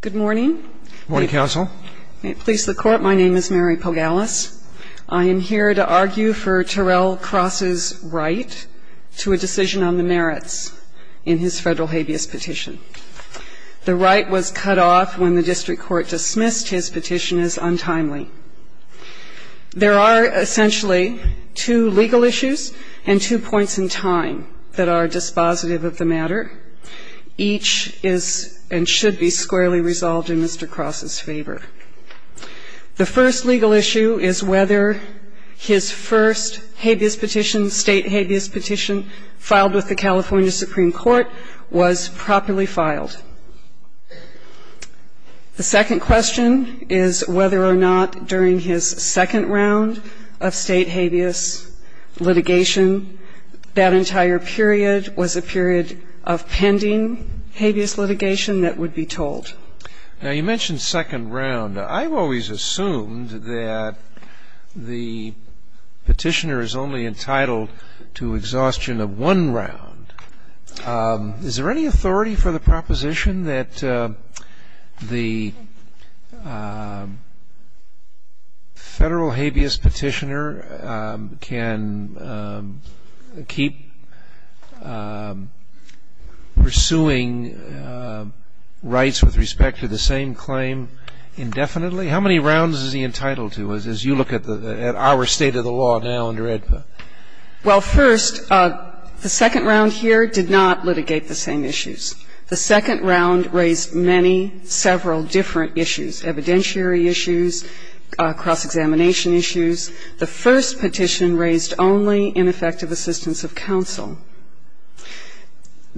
Good morning. Good morning, Counsel. May it please the Court, my name is Mary Pogalis. I am here to argue for Terrell Cross' right to a decision on the merits in his federal habeas petition. The right was cut off when the district court dismissed his petition as untimely. There are essentially two legal issues and two points in time that are dispositive of the matter. Each is and should be squarely resolved in Mr. Cross' favor. The first legal issue is whether his first habeas petition, state habeas petition, filed with the California Supreme Court was properly filed. The second question is whether or not during his second round of state habeas litigation that entire period was a period of pending habeas litigation that would be told. Now, you mentioned second round. I've always assumed that the petitioner is only entitled to exhaustion of one round. Is there any authority for the proposition that the federal habeas petitioner can keep pursuing rights with respect to the same claim indefinitely? How many rounds is he entitled to, as you look at our state of the law now under AEDPA? Well, first, the second round here did not litigate the same issues. The second round raised many, several different issues, evidentiary issues, cross-examination issues. The first petition raised only ineffective assistance of counsel,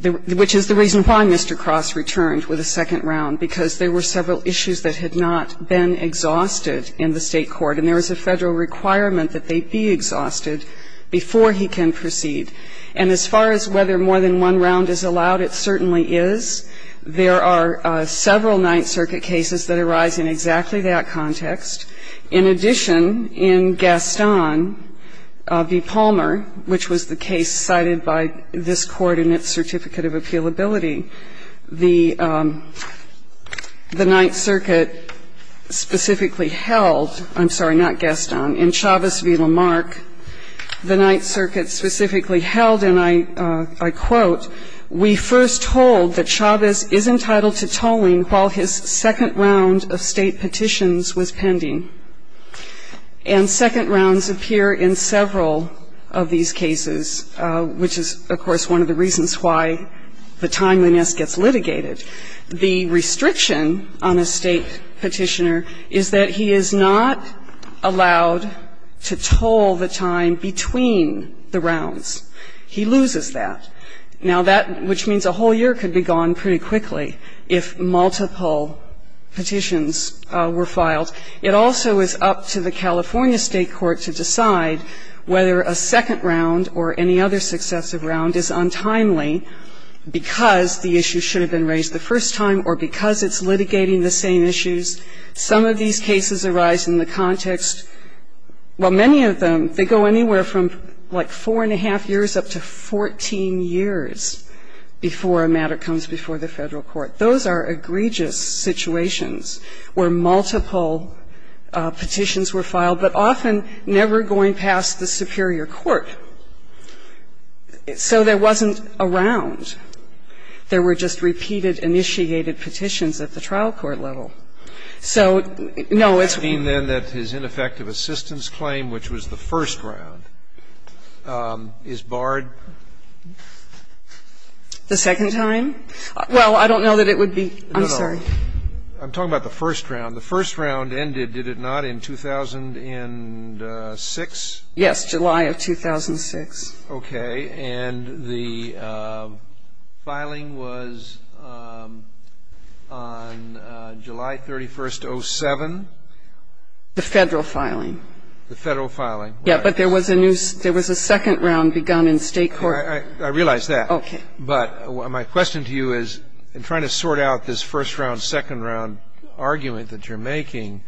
which is the reason why Mr. Cross returned with a second round, because there were several issues that had not been exhausted in the State court. And there was a federal requirement that they be exhausted before he can proceed. And as far as whether more than one round is allowed, it certainly is. There are several Ninth Circuit cases that arise in exactly that context. In addition, in Gaston v. Palmer, which was the case cited by this Court in its certificate of appealability, the Ninth Circuit specifically held, I'm sorry, not Gaston, in Chavez v. Lamarck, the Ninth Circuit specifically held, and I quote, we first told that Chavez is entitled to tolling while his second round of state petitions was pending. And second rounds appear in several of these cases, which is, of course, one of the reasons why the timeliness gets litigated. The restriction on a State petitioner is that he is not allowed to toll the time between the rounds. He loses that. Now, that which means a whole year could be gone pretty quickly if multiple petitions were filed. It also is up to the California State court to decide whether a second round or any other successive round is untimely because the issue should have been raised the first time or because it's litigating the same issues. Some of these cases arise in the context, well, many of them, they go anywhere from like four and a half years up to 14 years before a matter comes before the Federal court. Those are egregious situations where multiple petitions were filed, but often never going past the superior court. So there wasn't a round. There were just repeated, initiated petitions at the trial court level. So, no, it's week. Scalia, then, that his ineffective assistance claim, which was the first round, is barred? The second time? Well, I don't know that it would be. I'm sorry. I'm talking about the first round. The first round ended, did it not, in 2006? Yes, July of 2006. Okay. And the filing was on July 31st, 07? The Federal filing. The Federal filing. Yes, but there was a new ‑‑ there was a second round begun in State court. I realize that. Okay. But my question to you is, in trying to sort out this first round, second round argument that you're making,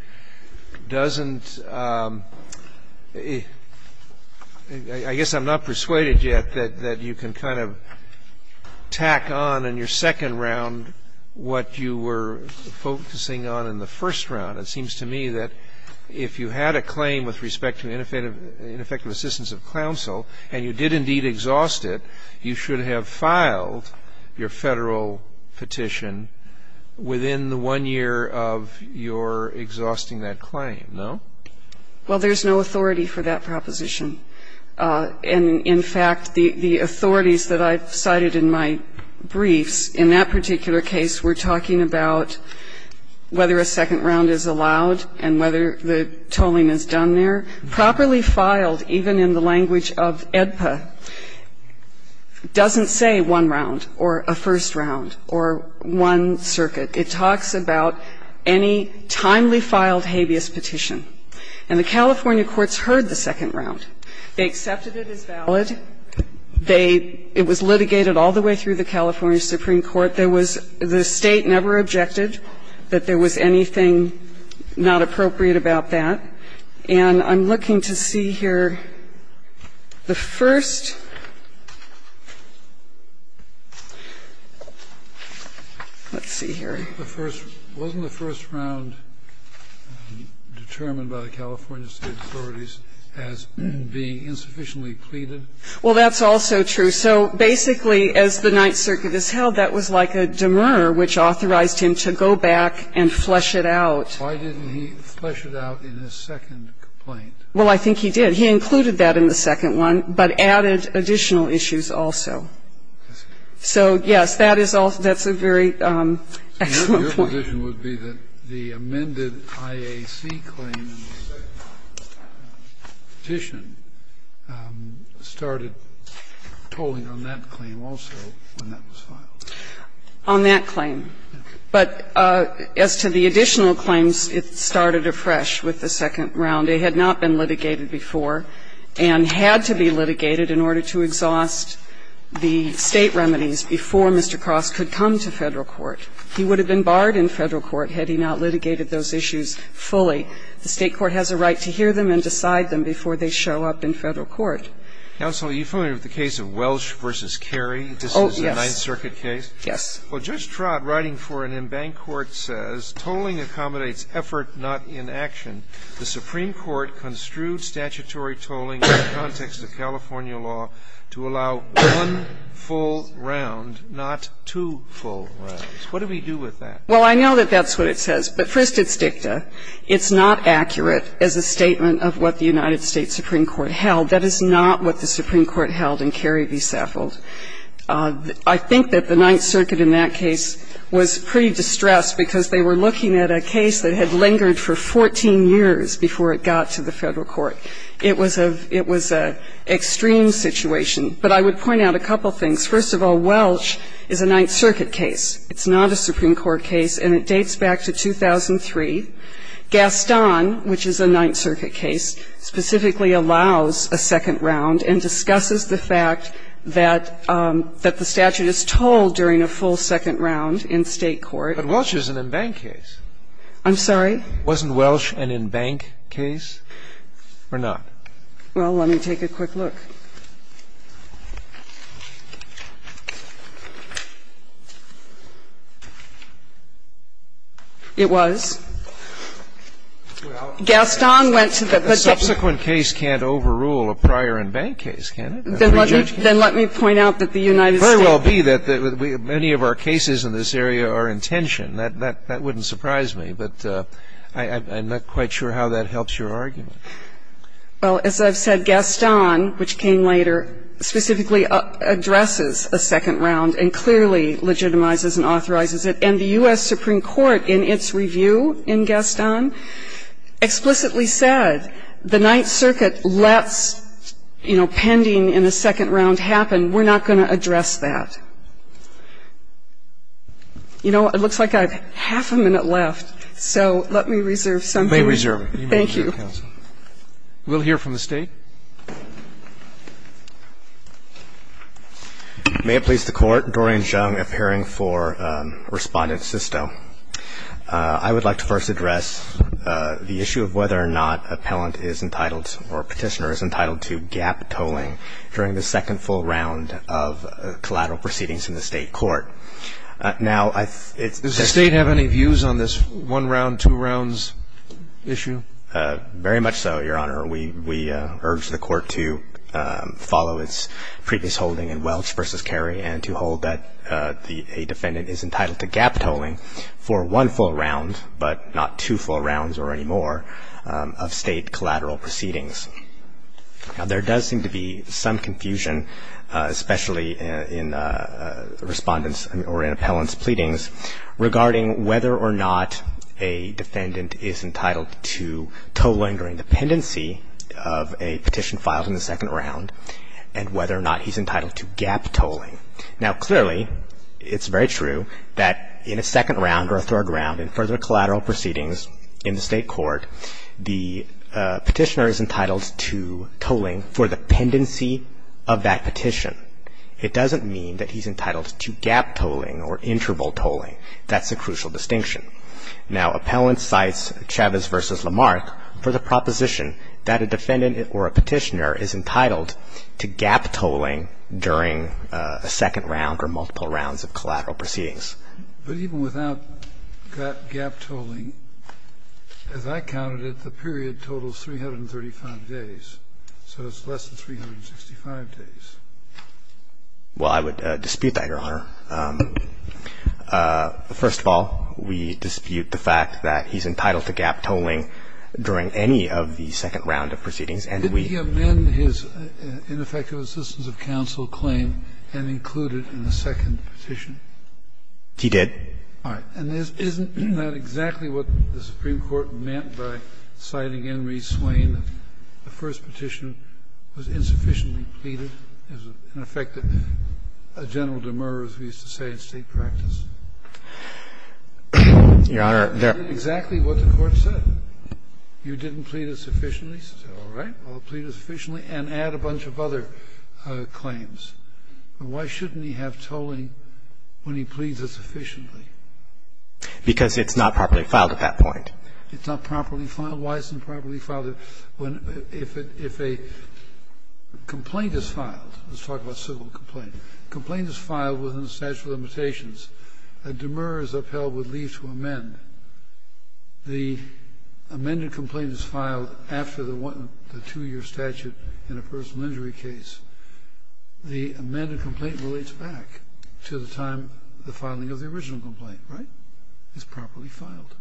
doesn't ‑‑ I guess I'm not persuaded yet that you can kind of tack on, in your second round, what you were focusing on in the first round. It seems to me that if you had a claim with respect to ineffective assistance of counsel, and you did indeed exhaust it, you should have filed your Federal petition within the one year of your exhausting that claim, no? Well, there's no authority for that proposition. And, in fact, the authorities that I've cited in my briefs, in that particular case, were talking about whether a second round is allowed and whether the tolling is done there. And the California Supreme Court, properly filed even in the language of AEDPA, doesn't say one round or a first round or one circuit. It talks about any timely filed habeas petition. And the California courts heard the second round. They accepted it as valid. They ‑‑ it was litigated all the way through the California Supreme Court. But there was ‑‑ the State never objected that there was anything not appropriate about that. And I'm looking to see here the first ‑‑ let's see here. The first ‑‑ wasn't the first round determined by the California State authorities as being insufficiently pleaded? Well, that's also true. So basically, as the Ninth Circuit has held, that was like a demur, which authorized him to go back and flesh it out. Why didn't he flesh it out in his second complaint? Well, I think he did. He included that in the second one, but added additional issues also. So, yes, that is also ‑‑ that's a very excellent point. And my conclusion would be that the amended IAC claim in the second petition started tolling on that claim also when that was filed. On that claim. But as to the additional claims, it started afresh with the second round. It had not been litigated before and had to be litigated in order to exhaust the State remedies before Mr. Cross could come to Federal court. He would have been barred in Federal court had he not litigated those issues fully. The State court has a right to hear them and decide them before they show up in Federal court. Counsel, are you familiar with the case of Welsh v. Carey? Oh, yes. This is the Ninth Circuit case? Yes. Well, Judge Trott, writing for an embanked court, says, tolling accommodates effort, not inaction. The Supreme Court construed statutory tolling in the context of California law to allow one full round, not two full rounds. What do we do with that? Well, I know that that's what it says, but first it's dicta. It's not accurate as a statement of what the United States Supreme Court held. That is not what the Supreme Court held in Carey v. Saffold. I think that the Ninth Circuit in that case was pretty distressed because they were looking at a case that had lingered for 14 years before it got to the Federal court. It was a extreme situation. But I would point out a couple things. First of all, Welsh is a Ninth Circuit case. It's not a Supreme Court case, and it dates back to 2003. Gaston, which is a Ninth Circuit case, specifically allows a second round and discusses the fact that the statute is tolled during a full second round in State court. But Welsh is an embanked case. I'm sorry? Wasn't Welsh an embanked case? Or not? Well, let me take a quick look. It was. Gaston went to the particular ---- A subsequent case can't overrule a prior embanked case, can it? Then let me point out that the United States ---- It very well be that many of our cases in this area are in tension. That wouldn't surprise me. But I'm not quite sure how that helps your argument. Well, as I've said, Gaston, which came later, specifically addresses a second round and clearly legitimizes and authorizes it. And the U.S. Supreme Court, in its review in Gaston, explicitly said the Ninth Circuit lets, you know, pending in a second round happen. We're not going to address that. You know, it looks like I have half a minute left. So let me reserve some time. You may reserve. Thank you. You may reserve, counsel. We'll hear from the State. May it please the Court, Dorian Jung, appearing for Respondent Sisto. I would like to first address the issue of whether or not appellant is entitled or petitioner is entitled to gap tolling during the second full round of collateral proceedings in the State Court. Does the State have any views on this one round, two rounds issue? Very much so, Your Honor. We urge the Court to follow its previous holding in Welch v. Kerry and to hold that a defendant is entitled to gap tolling for one full round, but not two full rounds or any more, of State collateral proceedings. Now, there does seem to be some confusion, especially in respondents or in appellant's pleadings, regarding whether or not a defendant is entitled to tolling during the pendency of a petition filed in the second round and whether or not he's entitled to gap tolling. Now, clearly, it's very true that in a second round or a third round in further collateral proceedings in the State Court, the petitioner is entitled to tolling for the pendency of that petition. It doesn't mean that he's entitled to gap tolling or interval tolling. That's a crucial distinction. Now, appellant cites Chavez v. Lamarck for the proposition that a defendant or a petitioner is entitled to gap tolling during a second round or multiple rounds of collateral proceedings. But even without gap tolling, as I counted it, the period totals 335 days, so it's less than 365 days. Well, I would dispute that, Your Honor. First of all, we dispute the fact that he's entitled to gap tolling during any of the second round of proceedings, and we. Did he amend his ineffective assistance of counsel claim and include it in the second round petition? He did. All right. And isn't that exactly what the Supreme Court meant by citing Henry Swain, that the first petition was insufficiently pleaded? In effect, a general demur, as we used to say in State practice. Your Honor, there. Isn't that exactly what the Court said? You didn't plead it sufficiently, so all right, I'll plead it sufficiently and add a bunch of other claims. But why shouldn't he have tolling when he pleads it sufficiently? Because it's not properly filed at that point. It's not properly filed? Why isn't it properly filed? If a complaint is filed, let's talk about civil complaint, complaint is filed within the statute of limitations, a demur is upheld with leave to amend. The amended complaint is filed after the two-year statute in a personal injury case. The amended complaint relates back to the time, the filing of the original complaint, right? It's properly filed.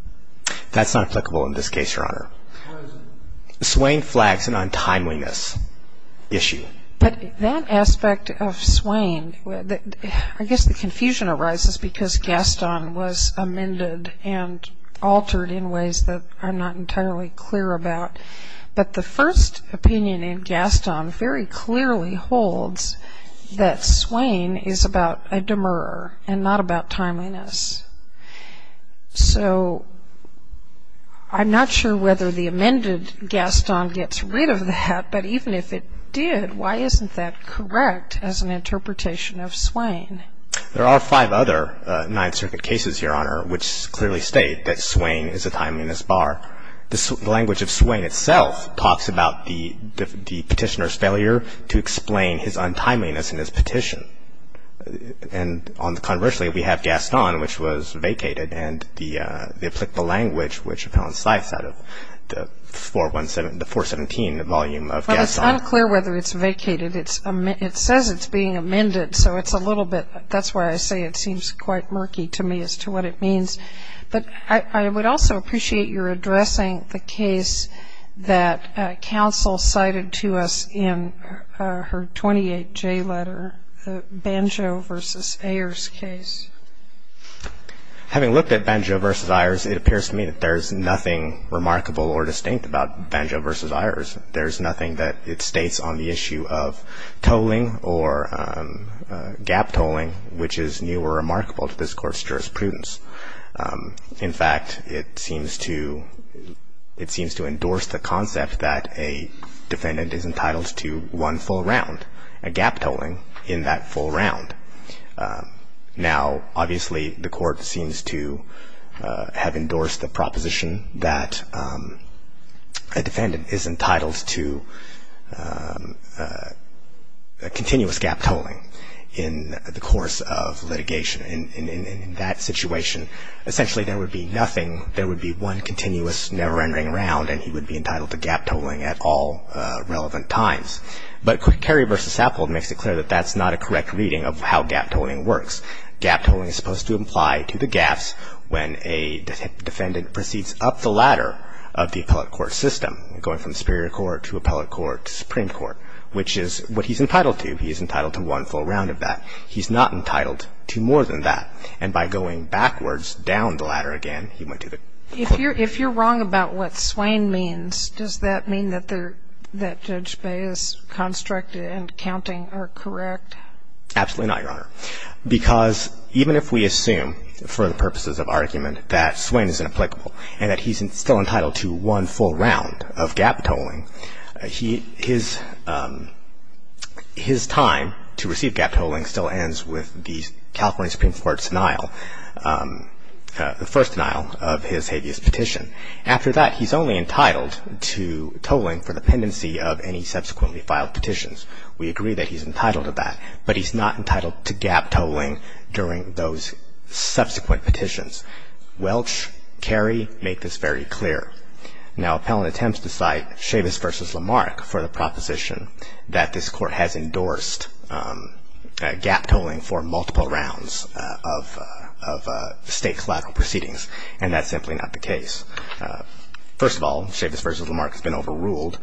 That's not applicable in this case, Your Honor. Why is it? Swain flags an untimeliness issue. But that aspect of Swain, I guess the confusion arises because Gaston was amended and altered in ways that are not entirely clear about. But the first opinion in Gaston very clearly holds that Swain is about a demur and not about timeliness. So I'm not sure whether the amended Gaston gets rid of that, but even if it did, why isn't that correct as an interpretation of Swain? There are five other Ninth Circuit cases, Your Honor, which clearly state that Swain is a timeliness bar. The language of Swain itself talks about the petitioner's failure to explain his untimeliness in his petition. And conversely, we have Gaston, which was vacated, and the applicable language which coincides out of the 417, the volume of Gaston. Well, it's unclear whether it's vacated. It says it's being amended, so it's a little bit. That's why I say it seems quite murky to me as to what it means. But I would also appreciate your addressing the case that counsel cited to us in her 28J letter, the Banjo v. Ayers case. Having looked at Banjo v. Ayers, it appears to me that there's nothing remarkable or distinct about Banjo v. Ayers. There's nothing that it states on the issue of tolling or gap tolling, which is new or remarkable to this Court's jurisprudence. In fact, it seems to endorse the concept that a defendant is entitled to one full round, a gap tolling in that full round. Now, obviously, the Court seems to have endorsed the proposition that a defendant is entitled to a continuous gap tolling in the course of litigation. In that situation, essentially, there would be nothing. There would be one continuous, never-ending round, and he would be entitled to gap tolling at all relevant times. But Kerry v. Sappold makes it clear that that's not a correct reading of how gap tolling works. Gap tolling is supposed to imply to the gaps when a defendant proceeds up the ladder of the appellate court system, going from superior court to appellate court to Supreme Court, which is what he's entitled to. He's entitled to one full round of that. He's not entitled to more than that. And by going backwards down the ladder again, he went to the court. If you're wrong about what swain means, does that mean that Judge Baye's construct and counting are correct? Absolutely not, Your Honor. Because even if we assume, for the purposes of argument, that swain is inapplicable and that he's still entitled to one full round of gap tolling, his time to receive gap tolling still ends with the California Supreme Court's denial, the first denial of his habeas petition. After that, he's only entitled to tolling for dependency of any subsequently filed petitions. We agree that he's entitled to that, but he's not entitled to gap tolling during those subsequent petitions. Welch, Carey make this very clear. Now, appellant attempts to cite Chavis v. Lamarck for the proposition that this court has endorsed gap tolling for multiple rounds of state collateral proceedings, and that's simply not the case. First of all, Chavis v. Lamarck has been overruled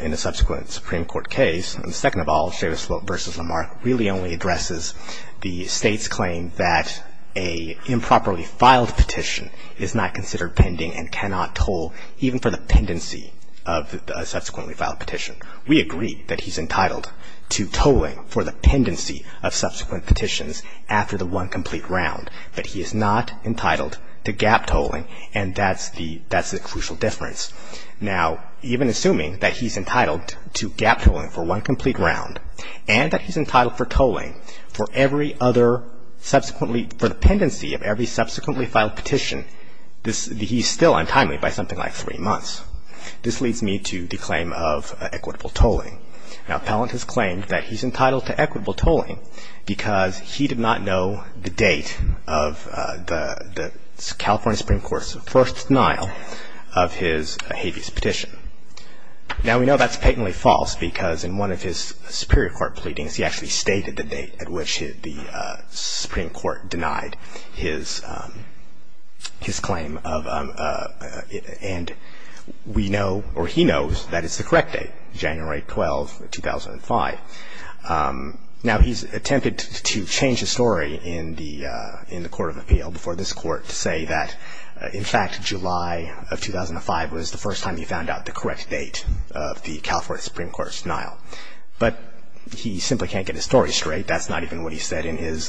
in a subsequent Supreme Court case. And second of all, Chavis v. Lamarck really only addresses the state's claim that an improperly filed petition is not considered pending and cannot toll, even for the pendency of a subsequently filed petition. We agree that he's entitled to tolling for the pendency of subsequent petitions after the one complete round, but he is not entitled to gap tolling, and that's the crucial difference. Now, even assuming that he's entitled to gap tolling for one complete round and that he's entitled for tolling for every other subsequently for the pendency of every subsequently filed petition, he's still untimely by something like three months. This leads me to the claim of equitable tolling. Now, appellant has claimed that he's entitled to equitable tolling because he did not know the date of the California Supreme Court's first denial of his habeas petition. Now, we know that's patently false because in one of his Superior Court pleadings he actually stated the date at which the Supreme Court denied his claim. And we know, or he knows, that it's the correct date, January 12, 2005. Now, he's attempted to change the story in the Court of Appeal before this Court to say that, in fact, July of 2005 was the first time he found out the correct date of the California Supreme Court's denial. But he simply can't get his story straight. That's not even what he said in his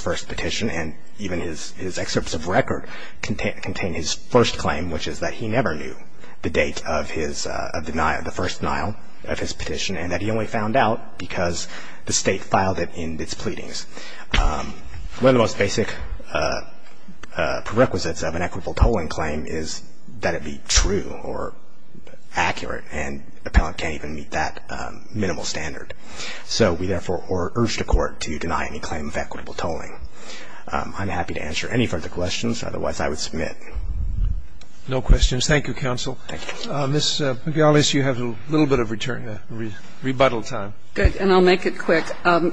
first petition, and even his excerpts of record contain his first claim, which is that he never knew the date of the first denial of his petition and that he only found out because the state filed it in its pleadings. One of the most basic prerequisites of an equitable tolling claim is that it be true or accurate, and an appellant can't even meet that minimal standard. So we therefore urge the Court to deny any claim of equitable tolling. I'm happy to answer any further questions. Otherwise, I would submit. No questions. Thank you, counsel. Thank you. Ms. McGillis, you have a little bit of rebuttal time. Good. And I'll make it quick.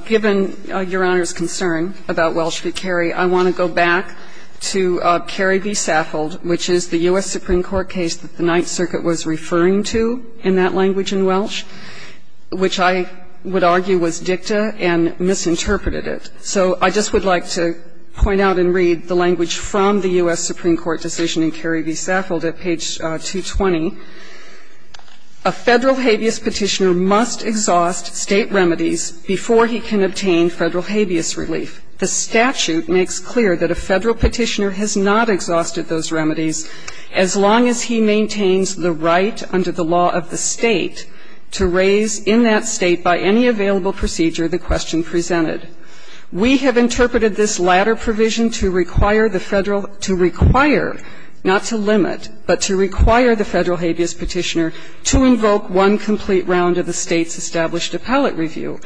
Given Your Honor's concern about Welsh v. Carey, I want to go back to Carey v. Saffold, which is the U.S. Supreme Court case that the Ninth Circuit was referring to in that language in Welsh, which I would argue was dicta and misinterpreted it. So I just would like to point out and read the language from the U.S. Supreme Court decision in Carey v. Saffold at page 220. A Federal habeas petitioner must exhaust State remedies before he can obtain Federal habeas relief. The statute makes clear that a Federal petitioner has not exhausted those remedies as long as he maintains the right under the law of the State to raise in that State by any available procedure the question presented. We have interpreted this latter provision to require the Federal habeas petitioner to invoke one complete round of the State's established appellate review.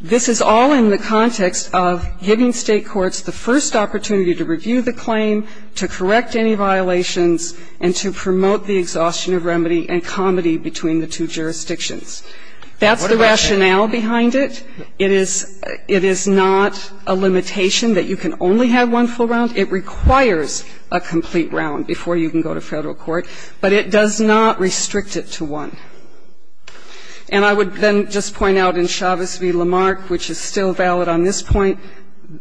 This is all in the context of giving State courts the first opportunity to review the claim, to correct any violations, and to promote the exhaustion of remedy and comity between the two jurisdictions. That's the rationale behind it. It is not a limitation that you can only have one full round. It requires a complete round before you can go to Federal court. But it does not restrict it to one. And I would then just point out in Chavez v. Lamarck, which is still valid on this point,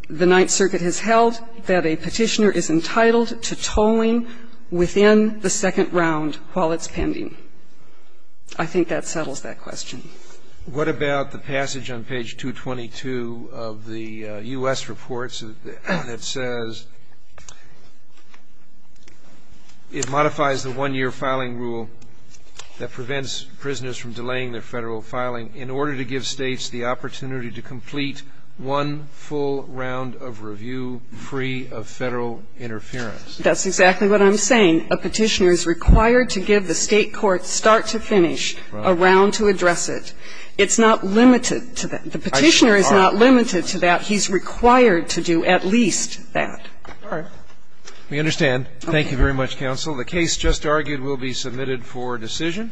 the Ninth Circuit has held that a petitioner is entitled to tolling within the second round while it's pending. I think that settles that question. What about the passage on page 222 of the U.S. reports that says it modifies the one-year filing rule that prevents prisoners from delaying their Federal filing in order to give States the opportunity to complete one full round of review free of Federal interference? That's exactly what I'm saying. A petitioner is required to give the State courts start to finish a round to address it. It's not limited to that. The petitioner is not limited to that. He's required to do at least that. All right. We understand. Thank you very much, counsel. The case just argued will be submitted for decision.